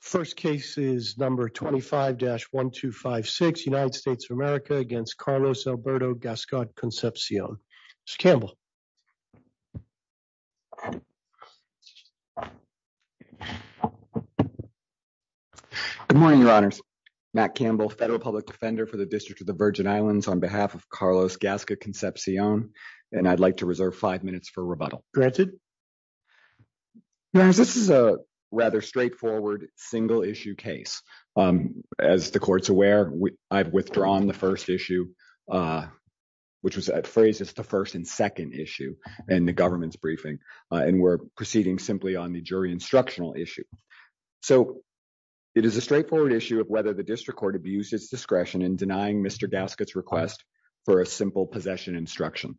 First case is number 25-1256 United States of America against Carlos Alberto Gascot Concepcion. Mr. Campbell. Good morning, your honors. Matt Campbell, Federal Public Defender for the District of the Virgin Islands on behalf of Carlos Gascot Concepcion, and I'd like to reserve five minutes for rebuttal. Granted. Your honors, this is a rather straightforward single issue case. As the court's aware, I've withdrawn the first issue, which was phrased as the first and second issue in the government's briefing, and we're proceeding simply on the jury instructional issue. So, it is a straightforward issue of whether the district court abused its discretion in denying Mr. Gascot's request for a simple possession instruction,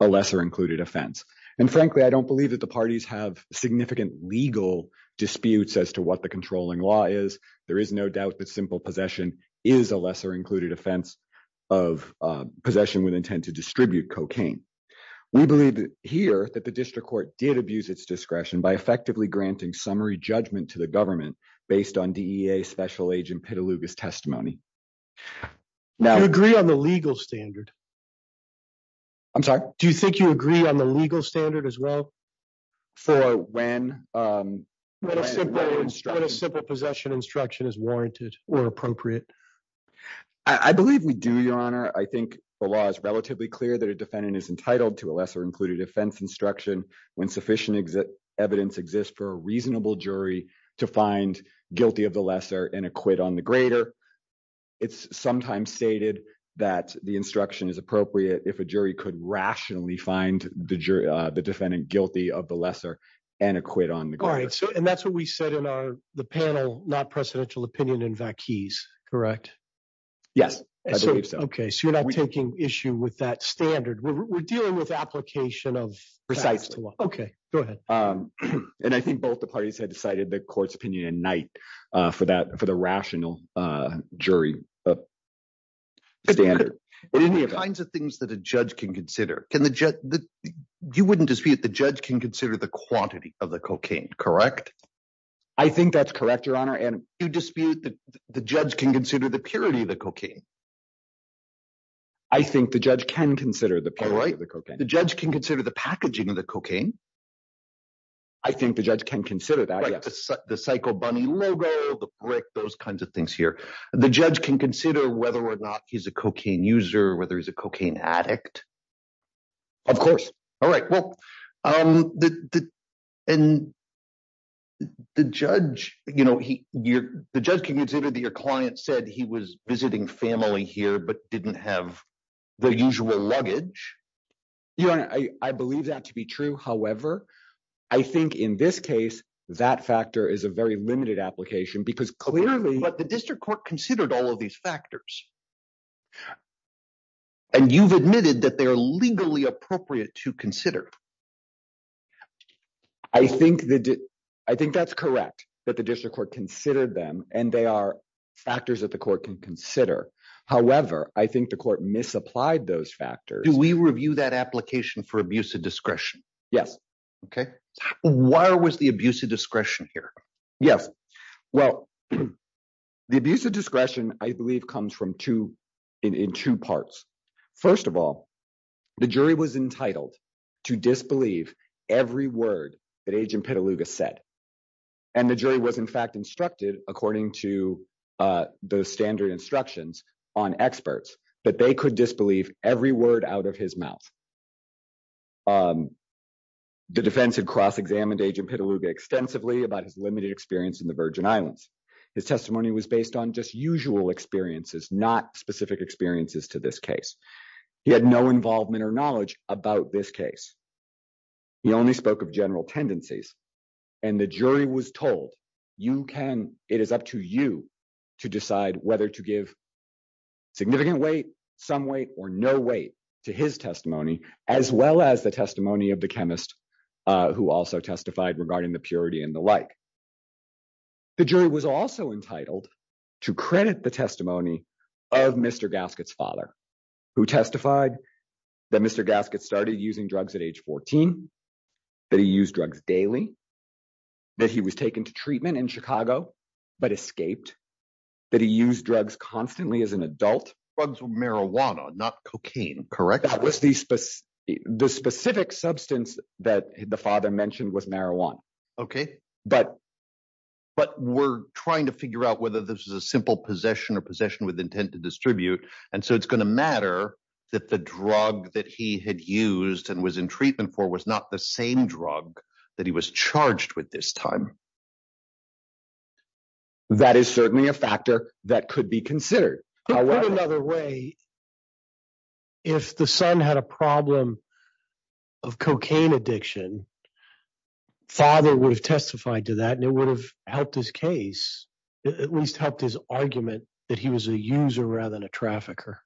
a lesser included offense. And frankly, I don't believe that the parties have significant legal disputes as to what the controlling law is. There is no doubt that simple possession is a lesser included offense of possession with intent to distribute cocaine. We believe here that the district court did abuse its discretion by effectively granting summary judgment to the government based on DEA Special Agent Petaluga's testimony. Do you agree on the legal standard? I'm sorry? Do you think you agree on the legal standard as well? For when? When a simple possession instruction is warranted or appropriate. I believe we do, Your Honor. I think the law is relatively clear that a defendant is entitled to a lesser included offense instruction when sufficient evidence exists for a reasonable jury to find guilty of the lesser and acquit on the greater. It's sometimes stated that the instruction is appropriate if a jury could rationally find the defendant guilty of the lesser and acquit on the greater. All right. So, and that's what we said in the panel, not presidential opinion in Vacchese, correct? Yes, I believe so. Okay, so you're not taking issue with that standard. We're dealing with application of facts. Okay, go ahead. And I think both the parties had decided the court's opinion at night for that, for the rational jury standard. What are the kinds of things that a judge can consider? Can the judge, you wouldn't dispute the judge can consider the quantity of the cocaine, correct? I think that's correct, Your Honor, and you dispute that the judge can consider the purity of the cocaine. I think the judge can consider the purity of the cocaine. The judge can consider the packaging of the cocaine. I think the judge can consider that, yes. The psycho bunny logo, the brick, those kinds of things here. The judge can consider whether or not he's a cocaine user, whether he's a cocaine addict. Of course. All right, well, and the judge, you know, the judge can consider that your client said he was visiting family here, but didn't have the usual luggage. Your Honor, I believe that to be true. However, I think in this case, that factor is a very limited application because clearly… But the district court considered all of these factors. And you've admitted that they're legally appropriate to consider. I think that's correct, that the district court considered them, and they are factors that the court can consider. However, I think the court misapplied those factors. Do we review that application for abuse of discretion? Yes. Okay. Why was the abuse of discretion here? Yes. Well, the abuse of discretion, I believe, comes in two parts. First of all, the jury was entitled to disbelieve every word that Agent Petaluga said. And the jury was, in fact, instructed, according to the standard instructions on experts, that they could disbelieve every word out of his mouth. The defense had cross-examined Agent Petaluga extensively about his limited experience in the Virgin Islands. His testimony was based on just usual experiences, not specific experiences to this case. He had no involvement or knowledge about this case. He only spoke of general tendencies. And the jury was told, it is up to you to decide whether to give significant weight, some weight, or no weight to his testimony, as well as the testimony of the chemist who also testified regarding the purity and the like. The jury was also entitled to credit the testimony of Mr. Gaskett's father, who testified that Mr. Gaskett started using drugs at age 14, that he used drugs daily, that he was taken to treatment in Chicago but escaped, that he used drugs constantly as an adult. Drugs were marijuana, not cocaine, correct? That was the specific substance that the father mentioned was marijuana. Okay. But we're trying to figure out whether this is a simple possession or possession with intent to distribute. And so it's going to matter that the drug that he had used and was in treatment for was not the same drug that he was charged with this time. That is certainly a factor that could be considered. Put another way, if the son had a problem of cocaine addiction, father would have testified to that and it would have helped his case, at least helped his argument that he was a user rather than a trafficker.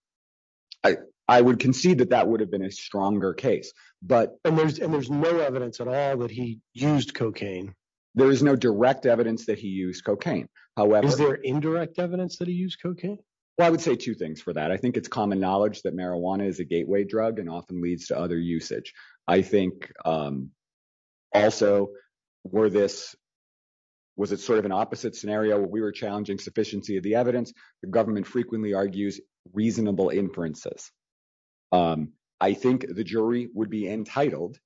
I would concede that that would have been a stronger case. And there's no evidence at all that he used cocaine. There is no direct evidence that he used cocaine. Is there indirect evidence that he used cocaine? Well, I would say two things for that. I think it's common knowledge that marijuana is a gateway drug and often leads to other usage. I think also, was it sort of an opposite scenario? We were challenging sufficiency of the evidence. The government frequently argues reasonable inferences. I think the jury would be entitled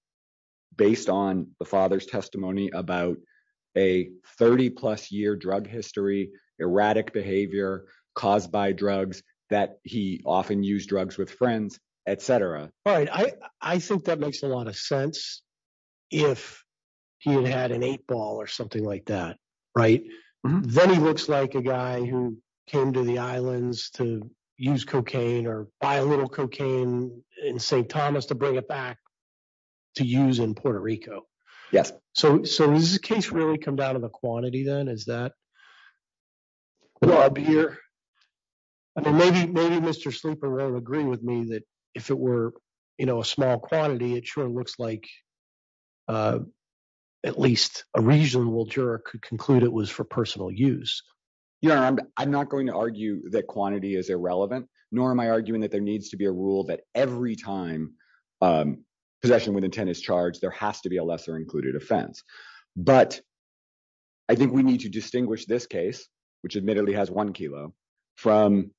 based on the father's testimony about a 30 plus year drug history, erratic behavior caused by drugs that he often use drugs with friends, et cetera. All right. I think that makes a lot of sense. I mean, if you look at the case, if he had an eight ball or something like that, right, then he looks like a guy who came to the islands to use cocaine or buy a little cocaine in St. Thomas to bring it back to use in Puerto Rico. Yes. So, so this is a case really come down to the quantity then is that. I mean, maybe maybe Mr. Sleeper will agree with me that if it were a small quantity, it sure looks like at least a reasonable juror could conclude it was for personal use. Yeah, I'm not going to argue that quantity is irrelevant, nor am I arguing that there needs to be a rule that every time possession with intent is charged, there has to be a lesser included offense. But I think we need to distinguish this case, which admittedly has one kilo from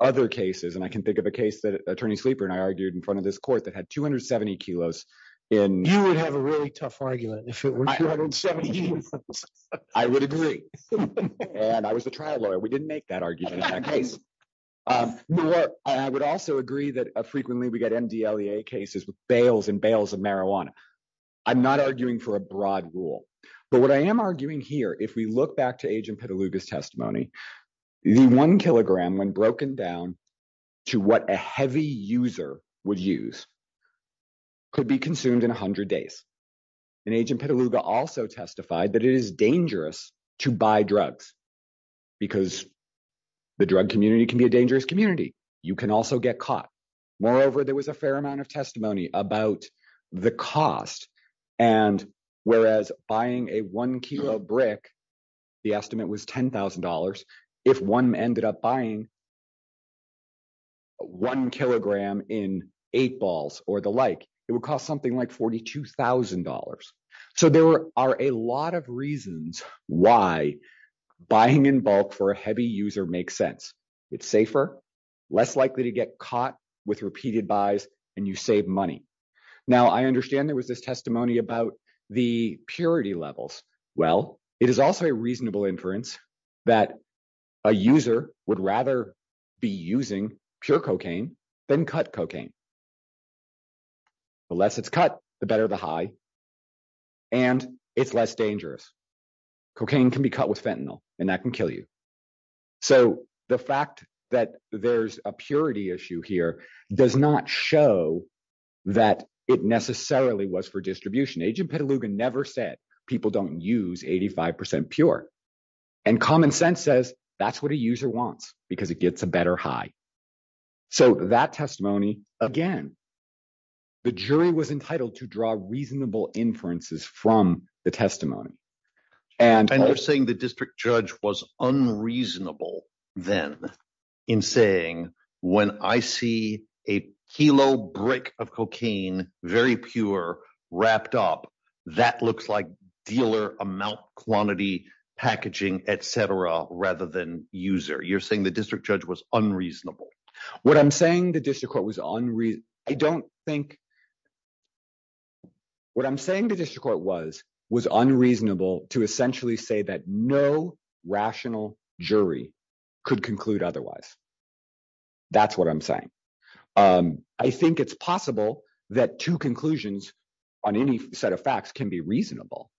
other cases and I can think of a case that attorney sleeper and I argued in front of this court that had 270 kilos in you would have a really tough argument. I would agree. And I was a trial lawyer we didn't make that argument. I would also agree that frequently we get MDLA cases with bales and bales of marijuana. I'm not arguing for a broad rule. But what I am arguing here if we look back to agent Petaluma testimony. The one kilogram when broken down to what a heavy user would use could be consumed in 100 days. And agent Petaluma also testified that it is dangerous to buy drugs, because the drug community can be a dangerous community. You can also get caught. Moreover, there was a fair amount of testimony about the cost. And whereas buying a one kilo brick. The estimate was $10,000. If one ended up buying one kilogram in eight balls, or the like, it would cost something like $42,000. So there are a lot of reasons why buying in bulk for a heavy user makes sense. It's safer, less likely to get caught with repeated buys, and you save money. Now I understand there was this testimony about the purity levels. Well, it is also a reasonable inference that a user would rather be using pure cocaine than cut cocaine. The less it's cut, the better the high, and it's less dangerous. Cocaine can be cut with fentanyl, and that can kill you. So, the fact that there's a purity issue here does not show that it necessarily was for distribution agent Petaluma never said people don't use 85% pure and common sense says that's what a user wants, because it gets a better high. So, that testimony, again, the jury was entitled to draw reasonable inferences from the testimony. And you're saying the district judge was unreasonable then in saying when I see a kilo brick of cocaine, very pure, wrapped up, that looks like dealer amount, quantity, packaging, etc., rather than user. You're saying the district judge was unreasonable. What I'm saying the district court was unreasonable to essentially say that no rational jury could conclude otherwise. That's what I'm saying. I think it's possible that two conclusions on any set of facts can be reasonable.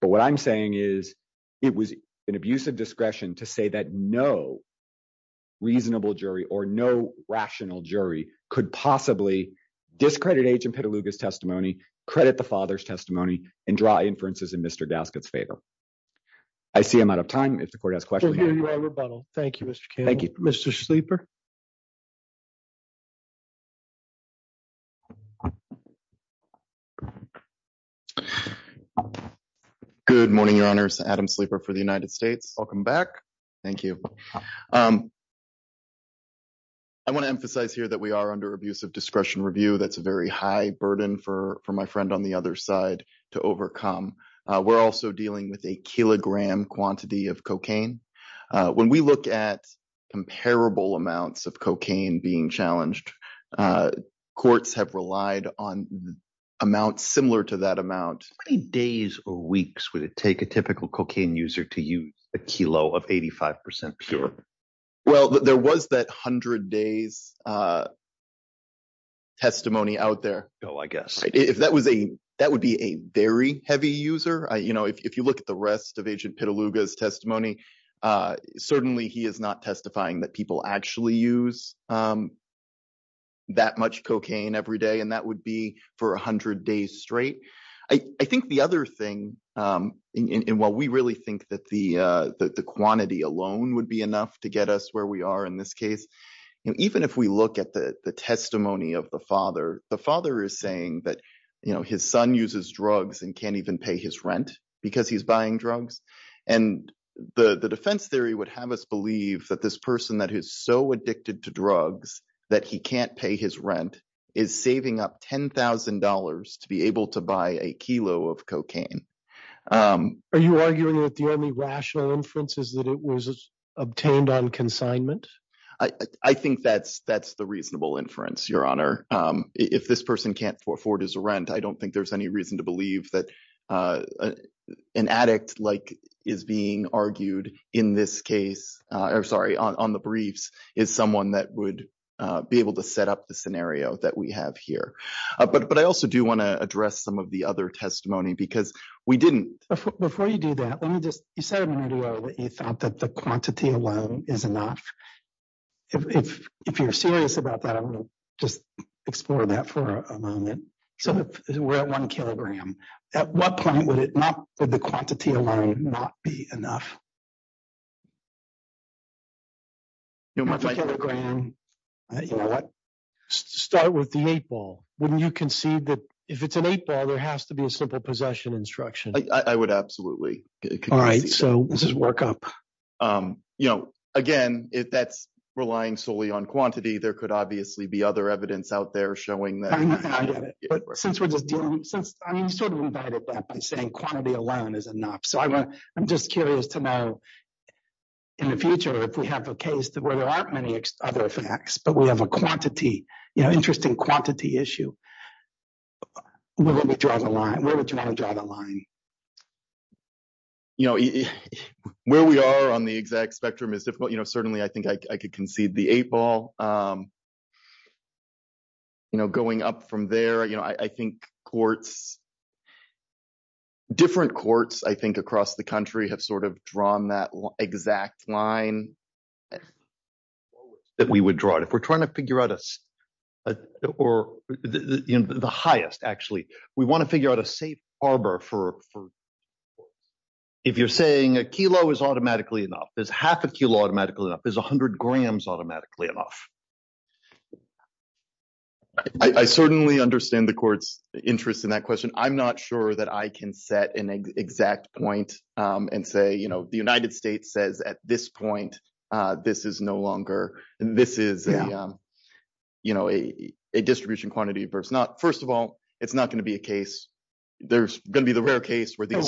But what I'm saying is, it was an abuse of discretion to say that no reasonable jury or no rational jury could possibly discredit agent Petaluma's testimony, credit the father's testimony, and draw inferences in Mr. Gaskett's favor. I see I'm out of time if the court has questions. Thank you, Mr. Thank you, Mr. Sleeper. Good morning, your honor's Adam sleeper for the United States. Welcome back. Thank you. I want to emphasize here that we are under abuse of discretion review. That's a very high burden for my friend on the other side to overcome. We're also dealing with a kilogram quantity of cocaine. When we look at comparable amounts of cocaine being challenged, courts have relied on amounts similar to that amount. How many days or weeks would it take a typical cocaine user to use a kilo of 85% pure? Well, there was that 100 days testimony out there. Oh, I guess if that was a that would be a very heavy user. You know, if you look at the rest of agent Petaluma's testimony, certainly he is not testifying that people actually use that much cocaine every day. And that would be for 100 days straight. I think the other thing in what we really think that the quantity alone would be enough to get us where we are in this case. And even if we look at the testimony of the father, the father is saying that his son uses drugs and can't even pay his rent because he's buying drugs. And the defense theory would have us believe that this person that is so addicted to drugs that he can't pay his rent is saving up $10,000 to be able to buy a kilo of cocaine. Are you arguing that the only rational inference is that it was obtained on consignment? I think that's that's the reasonable inference, Your Honor. If this person can't afford his rent, I don't think there's any reason to believe that an addict like is being argued in this case. I'm sorry on the briefs is someone that would be able to set up the scenario that we have here. But I also do want to address some of the other testimony because we didn't before you do that. Let me just you said earlier that you thought that the quantity alone is enough. If you're serious about that, I'm going to just explore that for a moment. So we're at one kilogram. At what point would it not for the quantity alone not be enough? You know what? Start with the eight ball. When you can see that if it's an eight ball, there has to be a simple possession instruction. I would absolutely. All right. So this is work up, you know, again, if that's relying solely on quantity, there could obviously be other evidence out there showing that. But since we're just dealing since I sort of invited that by saying quantity alone is enough. So I'm just curious to know in the future if we have a case where there aren't many other facts, but we have a quantity, you know, interesting quantity issue. When we draw the line, where would you want to draw the line? You know, where we are on the exact spectrum is difficult. You know, certainly I think I could concede the eight ball. You know, going up from there, you know, I think courts. Different courts, I think, across the country have sort of drawn that exact line. That we would draw it if we're trying to figure out us or the highest, actually, we want to figure out a safe harbor for. If you're saying a kilo is automatically enough, there's half a kilo automatically is 100 grams automatically enough. I certainly understand the court's interest in that question. I'm not sure that I can set an exact point and say, you know, the United States says at this point, this is no longer. And this is, you know, a distribution quantity versus not. First of all, it's not going to be a case. There's going to be the rare case where this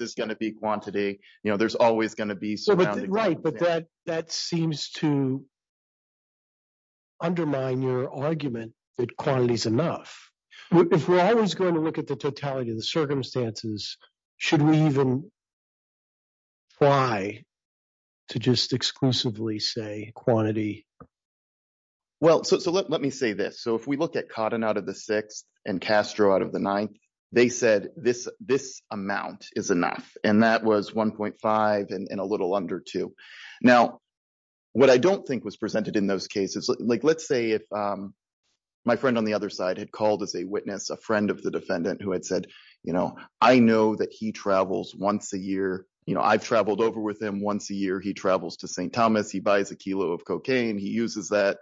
is going to be quantity. You know, there's always going to be. Right. But that that seems to. Undermine your argument that quantity is enough. If we're always going to look at the totality of the circumstances, should we even. Why to just exclusively say quantity. Well, so let me say this. So, if we look at cotton out of the 6th and Castro out of the 9th, they said this this amount is enough. And that was 1.5 and a little under 2. now. What I don't think was presented in those cases, like, let's say if my friend on the other side had called as a witness, a friend of the defendant who had said, you know, I know that he travels once a year. You know, I've traveled over with him once a year. He travels to St. Thomas. He buys a kilo of cocaine. He uses that,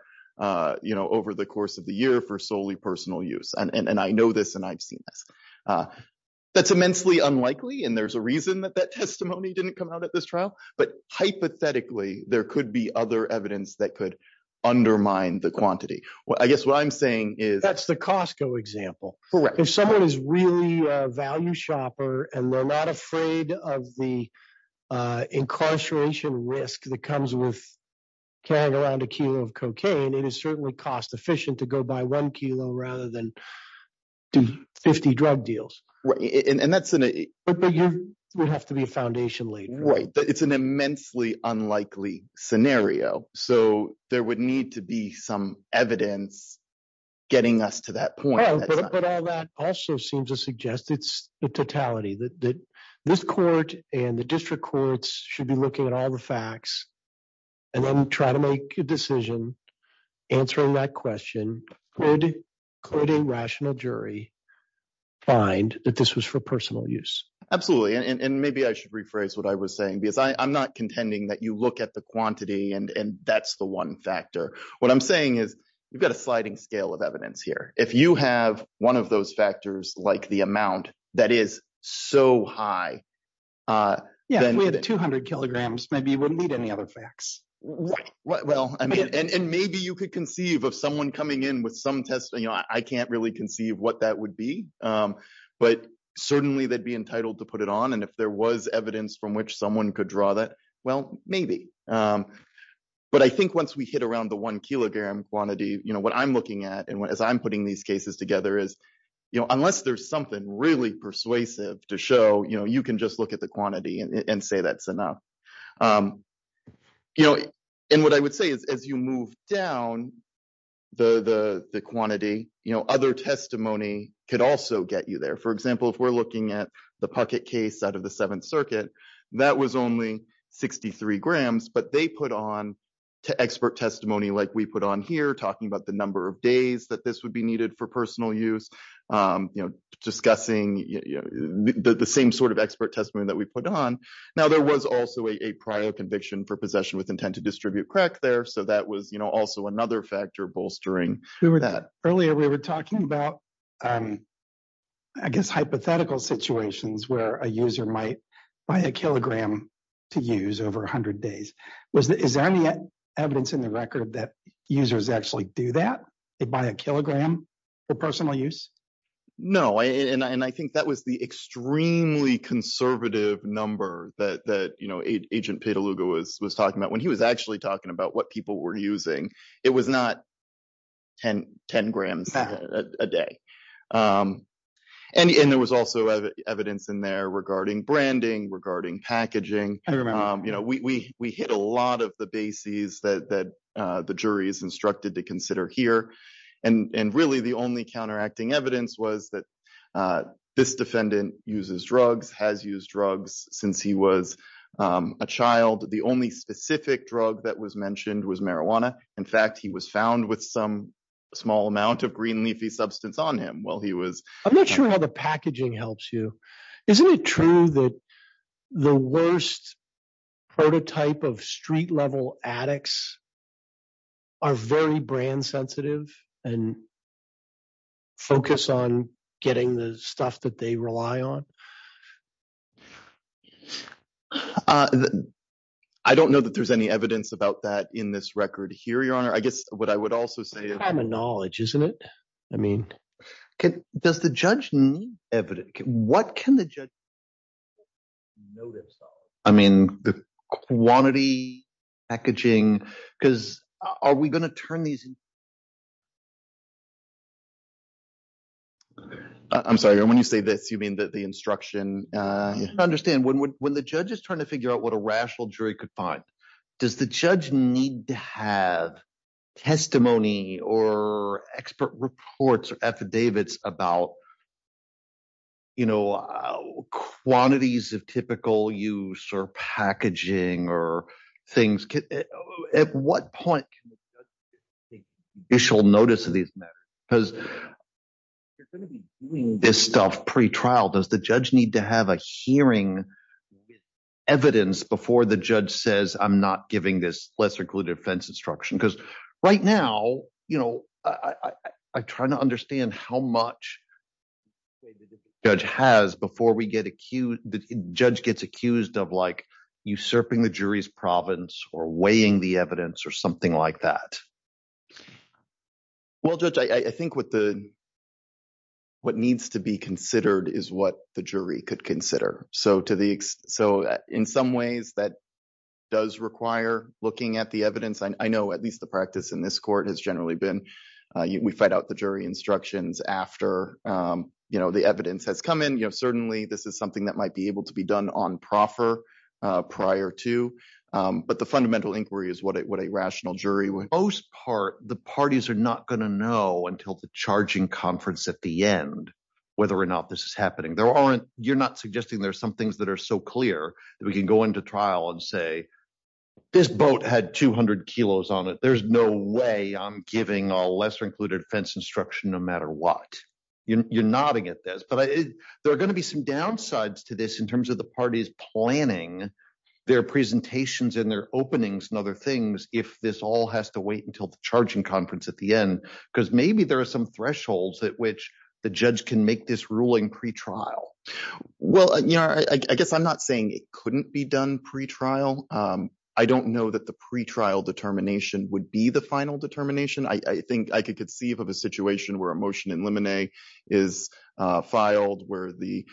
you know, over the course of the year for solely personal use. And I know this and I've seen this. That's immensely unlikely. And there's a reason that that testimony didn't come out at this trial. But hypothetically, there could be other evidence that could undermine the quantity. Well, I guess what I'm saying is that's the Costco example. If someone is really a value shopper, and they're not afraid of the incarceration risk that comes with carrying around a kilo of cocaine, it is certainly cost efficient to go by 1 kilo rather than 50 drug deals. But you would have to be a foundation later, right? It's an immensely unlikely scenario. So there would need to be some evidence. Getting us to that point, but all that also seems to suggest it's the totality that this court and the district courts should be looking at all the facts. And then try to make a decision answering that question. Could a rational jury find that this was for personal use? Absolutely. And maybe I should rephrase what I was saying, because I'm not contending that you look at the quantity and that's the one factor. What I'm saying is you've got a sliding scale of evidence here. If you have one of those factors, like the amount that is so high. Yeah, if we had 200 kilograms, maybe you wouldn't need any other facts. Right. And maybe you could conceive of someone coming in with some testimony. I can't really conceive what that would be, but certainly they'd be entitled to put it on. And if there was evidence from which someone could draw that, well, maybe. But I think once we hit around the one kilogram quantity, what I'm looking at and as I'm putting these cases together is, unless there's something really persuasive to show, you can just look at the quantity and say that's enough. And what I would say is as you move down the quantity, other testimony could also get you there. For example, if we're looking at the pocket case out of the Seventh Circuit, that was only 63 grams, but they put on to expert testimony like we put on here, talking about the number of days that this would be needed for personal use, discussing the same sort of expert testimony that we put on. Now, there was also a prior conviction for possession with intent to distribute crack there, so that was also another factor bolstering that. Earlier, we were talking about, I guess, hypothetical situations where a user might buy a kilogram to use over 100 days. Is there any evidence in the record that users actually do that? They buy a kilogram for personal use? No, and I think that was the extremely conservative number that Agent Petaluga was talking about. When he was actually talking about what people were using, it was not 10 grams a day. And there was also evidence in there regarding branding, regarding packaging. We hit a lot of the bases that the jury is instructed to consider here, and really the only counteracting evidence was that this defendant uses drugs, has used drugs since he was a child. The only specific drug that was mentioned was marijuana. In fact, he was found with some small amount of green leafy substance on him while he was… I'm not sure how the packaging helps you. Isn't it true that the worst prototype of street-level addicts are very brand-sensitive and focus on getting the stuff that they rely on? I don't know that there's any evidence about that in this record here, Your Honor. I guess what I would also say is… What can the judge notice, though? I mean the quantity, packaging, because are we going to turn these… I'm sorry. When you say this, you mean the instruction? I don't understand. When the judge is trying to figure out what a rational jury could find, does the judge need to have testimony or expert reports or affidavits about quantities of typical use or packaging or things? At what point can the judge take official notice of these matters? Because you're going to be doing this stuff pre-trial. Does the judge need to have a hearing with evidence before the judge says, I'm not giving this lesser-cluded offense instruction? Because right now, I'm trying to understand how much the judge gets accused of usurping the jury's province or weighing the evidence or something like that. Well, Judge, I think what needs to be considered is what the jury could consider. So in some ways, that does require looking at the evidence. I know at least the practice in this court has generally been we fight out the jury instructions after the evidence has come in. Certainly, this is something that might be able to be done on proffer prior to, but the fundamental inquiry is what a rational jury would… There are some things that are so clear that we can go into trial and say, this boat had 200 kilos on it. There's no way I'm giving a lesser-included offense instruction no matter what. You're nodding at this, but there are going to be some downsides to this in terms of the parties planning their presentations and their openings and other things if this all has to wait until the charging conference at the end. Because maybe there are some thresholds at which the judge can make this ruling pre-trial. Well, I guess I'm not saying it couldn't be done pre-trial. I don't know that the pre-trial determination would be the final determination. I think I could conceive of a situation where a motion in limine is filed where the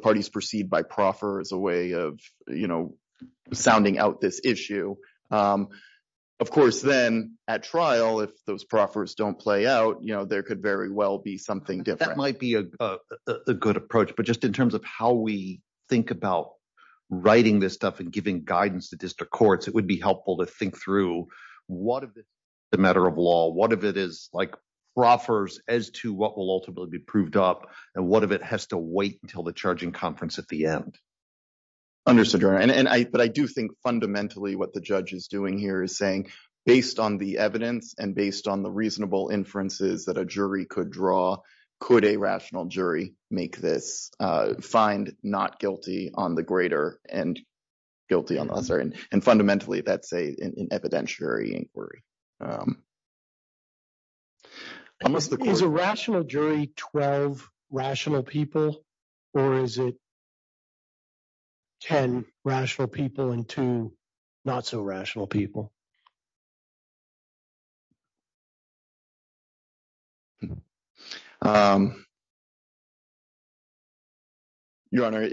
parties proceed by proffer as a way of sounding out this issue. Of course, then at trial, if those proffers don't play out, there could very well be something different. That might be a good approach, but just in terms of how we think about writing this stuff and giving guidance to district courts, it would be helpful to think through what if it's a matter of law, what if it is like proffers as to what will ultimately be proved up, and what if it has to wait until the charging conference at the end? But I do think fundamentally what the judge is doing here is saying, based on the evidence and based on the reasonable inferences that a jury could draw, could a rational jury make this, find not guilty on the greater and guilty on the lesser? And fundamentally, that's an evidentiary inquiry. Is a rational jury 12 rational people, or is it 10 rational people and 2 not so rational people? I was going to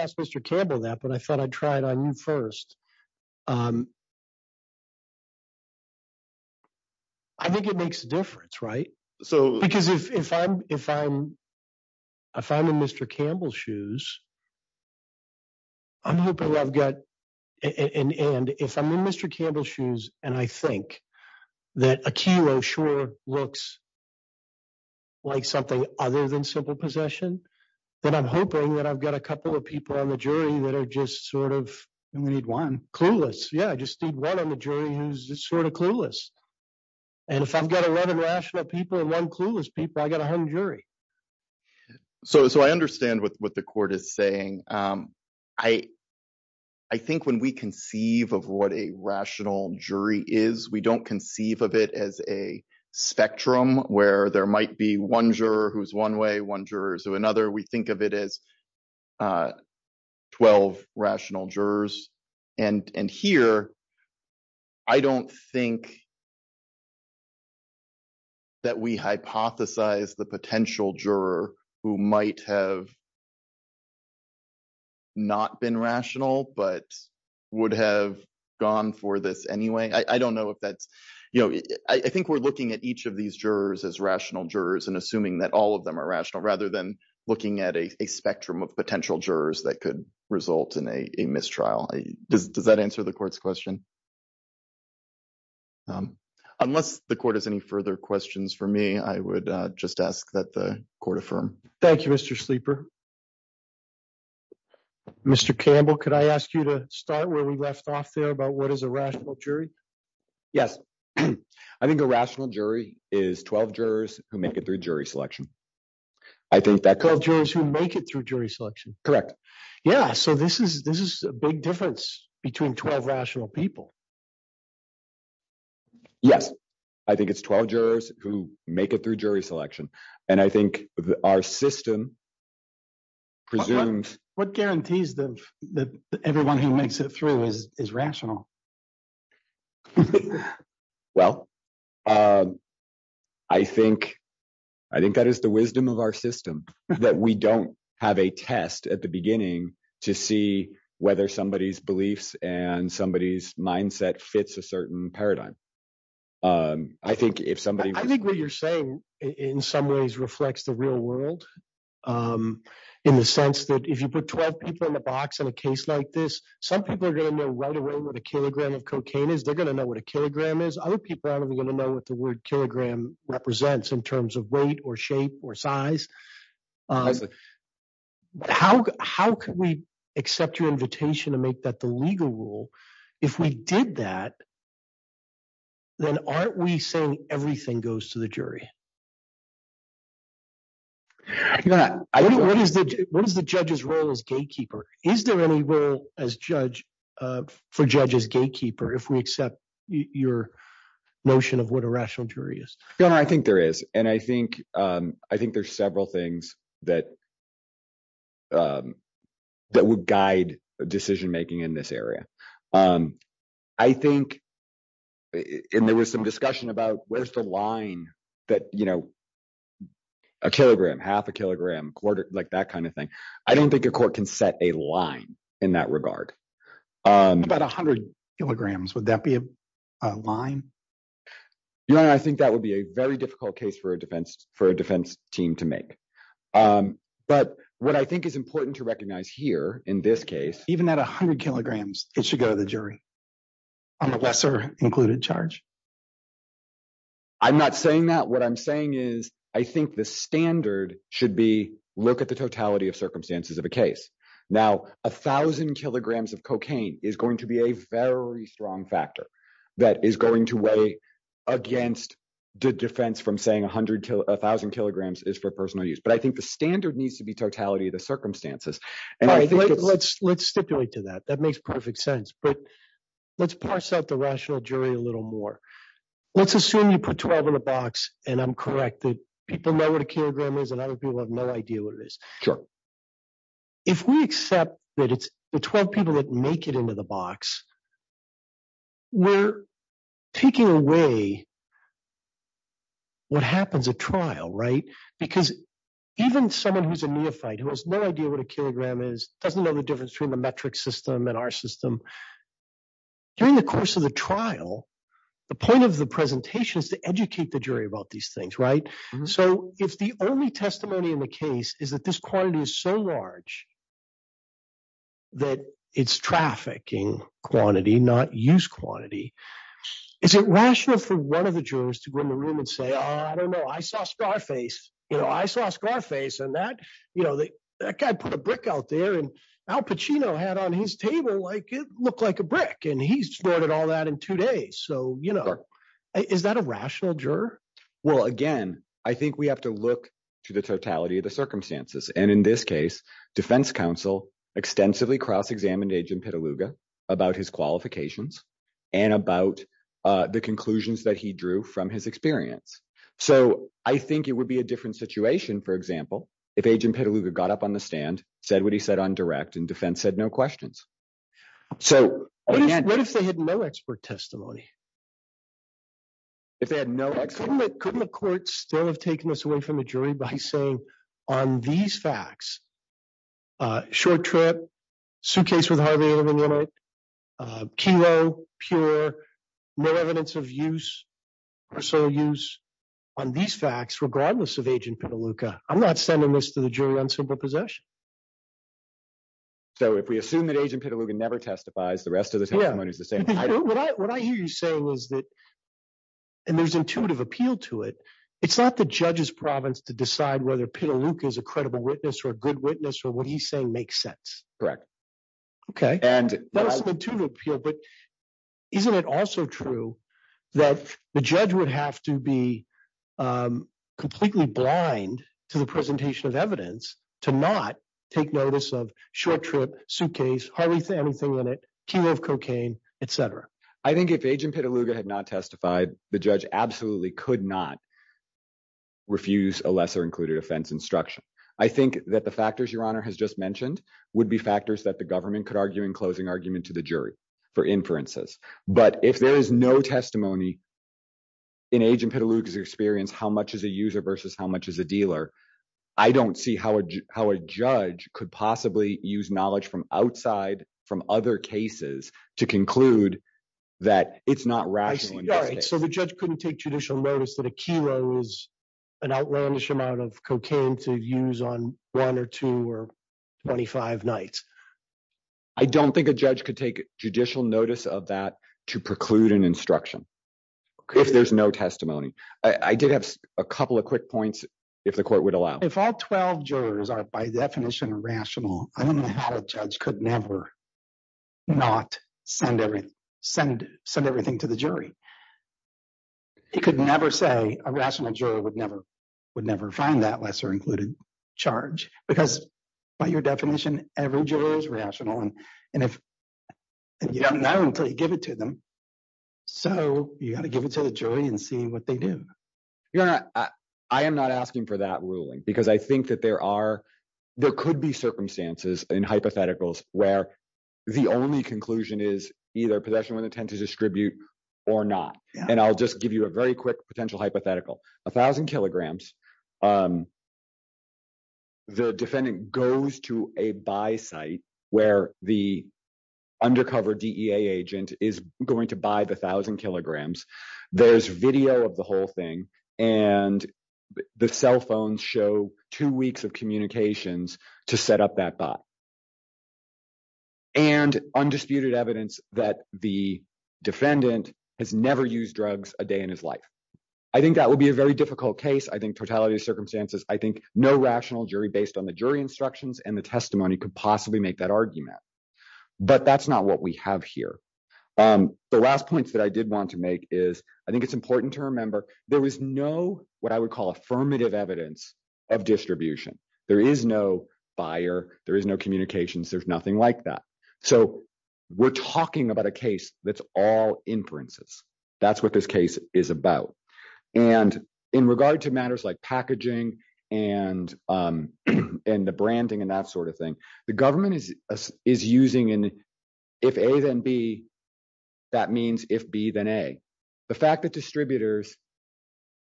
ask Mr. Campbell that, but I thought I'd try it on you first. I think it makes a difference, right? Because if I'm in Mr. Campbell's shoes, I'm hoping I've got, and if I'm in Mr. Campbell's shoes, and I think that a kilo sure looks like something other than simple possession, then I'm hoping that I've got a couple of people on the jury that are just sort of… We need one. Yeah, I just need one on the jury who's just sort of clueless. And if I've got 11 rational people and one clueless people, I've got a hung jury. So I understand what the court is saying. I think when we conceive of what a rational jury is, we don't conceive of it as a spectrum where there might be one juror who's one way, one juror's another. We think of it as 12 rational jurors. And here, I don't think that we hypothesize the potential juror who might have not been rational but would have gone for this anyway. I don't know if that's… I think we're looking at each of these jurors as rational jurors and assuming that all of them are rational rather than looking at a spectrum of potential jurors that could result in a mistrial. Does that answer the court's question? Unless the court has any further questions for me, I would just ask that the court affirm. Thank you, Mr. Sleeper. Mr. Campbell, could I ask you to start where we left off there about what is a rational jury? Yes. I think a rational jury is 12 jurors who make it through jury selection. I think that… 12 jurors who make it through jury selection. Correct. Yeah. So this is a big difference between 12 rational people. Yes. I think it's 12 jurors who make it through jury selection. And I think our system presumes… What guarantees that everyone who makes it through is rational? Well, I think that is the wisdom of our system, that we don't have a test at the beginning to see whether somebody's beliefs and somebody's mindset fits a certain paradigm. I think if somebody… I think what you're saying in some ways reflects the real world in the sense that if you put 12 people in the box in a case like this, some people are going to know right away what a kilogram of cocaine is. They're going to know what a kilogram is. Other people aren't even going to know what the word kilogram represents in terms of weight or shape or size. How can we accept your invitation to make that the legal rule? If we did that, then aren't we saying everything goes to the jury? What is the judge's role as gatekeeper? Is there any role for judge as gatekeeper if we accept your notion of what a rational jury is? Your Honor, I think there is, and I think there's several things that would guide decision-making in this area. I think – and there was some discussion about where's the line that a kilogram, half a kilogram, quarter, like that kind of thing. I don't think a court can set a line in that regard. What about 100 kilograms? Would that be a line? Your Honor, I think that would be a very difficult case for a defense team to make. But what I think is important to recognize here in this case… Even at 100 kilograms, it should go to the jury on a lesser included charge? I'm not saying that. What I'm saying is I think the standard should be look at the totality of circumstances of a case. Now, 1,000 kilograms of cocaine is going to be a very strong factor that is going to weigh against the defense from saying 1,000 kilograms is for personal use. But I think the standard needs to be totality of the circumstances. Let's stipulate to that. That makes perfect sense. But let's parse out the rational jury a little more. Let's assume you put 12 in a box, and I'm correct. People know what a kilogram is, and other people have no idea what it is. Sure. If we accept that it's the 12 people that make it into the box, we're taking away what happens at trial, right? Because even someone who's a neophyte, who has no idea what a kilogram is, doesn't know the difference between the metric system and our system… During the course of the trial, the point of the presentation is to educate the jury about these things, right? So, if the only testimony in the case is that this quantity is so large that it's trafficking quantity, not use quantity, is it rational for one of the jurors to go in the room and say, I don't know, I saw Scarface, and that guy put a brick out there, and Al Pacino had on his table, it looked like a brick, and he snorted all that in two days. Is that a rational juror? Well, again, I think we have to look to the totality of the circumstances. And in this case, defense counsel extensively cross-examined Agent Petaluga about his qualifications and about the conclusions that he drew from his experience. So I think it would be a different situation, for example, if Agent Petaluga got up on the stand, said what he said on direct, and defense said no questions. What if they had no expert testimony? If they had no expert testimony? Couldn't the court still have taken this away from the jury by saying, on these facts, short trip, suitcase with Harvey Adleman in it, kilo, pure, no evidence of use or sole use on these facts, regardless of Agent Petaluga. I'm not sending this to the jury on simple possession. So if we assume that Agent Petaluga never testifies, the rest of the testimony is the same. What I hear you say was that, and there's intuitive appeal to it, it's not the judge's province to decide whether Petaluga is a credible witness or a good witness or what he's saying makes sense. Okay, and that was an intuitive appeal, but isn't it also true that the judge would have to be completely blind to the presentation of evidence to not take notice of short trip, suitcase, hardly anything in it, kilo of cocaine, etc. I think if Agent Petaluga had not testified, the judge absolutely could not refuse a lesser included offense instruction. I think that the factors Your Honor has just mentioned would be factors that the government could argue in closing argument to the jury for inferences. But if there is no testimony in Agent Petaluga's experience, how much is a user versus how much is a dealer? I don't see how a judge could possibly use knowledge from outside from other cases to conclude that it's not rational. So the judge couldn't take judicial notice that a kilo is an outlandish amount of cocaine to use on one or two or 25 nights. I don't think a judge could take judicial notice of that to preclude an instruction. If there's no testimony, I did have a couple of quick points, if the court would allow. If all 12 jurors are, by definition, rational, I don't know how a judge could never not send everything to the jury. He could never say a rational juror would never find that lesser included charge because by your definition, every juror is rational. And if you don't know until you give it to them, so you have to give it to the jury and see what they do. I am not asking for that ruling because I think that there are there could be circumstances and hypotheticals where the only conclusion is either possession with intent to distribute or not. And I'll just give you a very quick potential hypothetical. A thousand kilograms. The defendant goes to a buy site where the undercover DEA agent is going to buy the thousand kilograms. There's video of the whole thing, and the cell phones show two weeks of communications to set up that buy. And undisputed evidence that the defendant has never used drugs a day in his life. I think that would be a very difficult case. I think totality of circumstances. I think no rational jury based on the jury instructions and the testimony could possibly make that argument. But that's not what we have here. The last points that I did want to make is, I think it's important to remember, there was no what I would call affirmative evidence of distribution. There is no buyer, there is no communications, there's nothing like that. So, we're talking about a case that's all inferences. That's what this case is about. And in regard to matters like packaging, and, and the branding and that sort of thing. The government is, is using in. If A then B, that means if B then A. The fact that distributors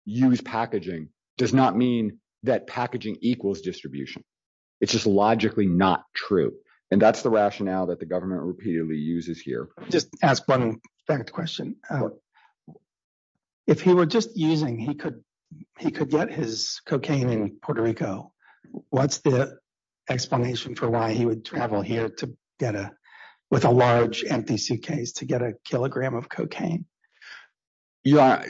use packaging does not mean that packaging equals distribution. It's just logically not true. And that's the rationale that the government repeatedly uses here. Just ask one fact question. If he were just using he could, he could get his cocaine in Puerto Rico. What's the explanation for why he would travel here to get a with a large empty suitcase to get a kilogram of cocaine. Yeah,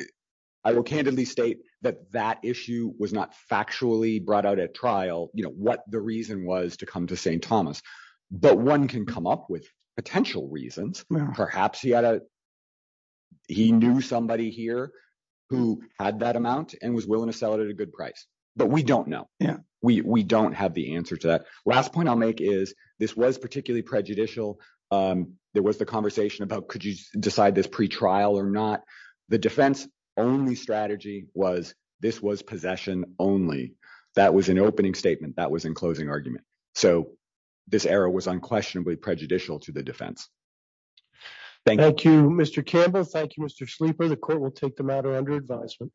I will candidly state that that issue was not factually brought out at trial. You know what the reason was to come to St. Thomas, but one can come up with potential reasons. Perhaps he had a. He knew somebody here who had that amount and was willing to sell it at a good price, but we don't know. Yeah, we don't have the answer to that last point I'll make is this was particularly prejudicial. There was the conversation about could you decide this pre trial or not. The defense only strategy was this was possession only. That was an opening statement that was in closing argument. So, this era was unquestionably prejudicial to the defense. Thank you, Mr. Campbell Thank you Mr sleeper the court will take the matter under advisement.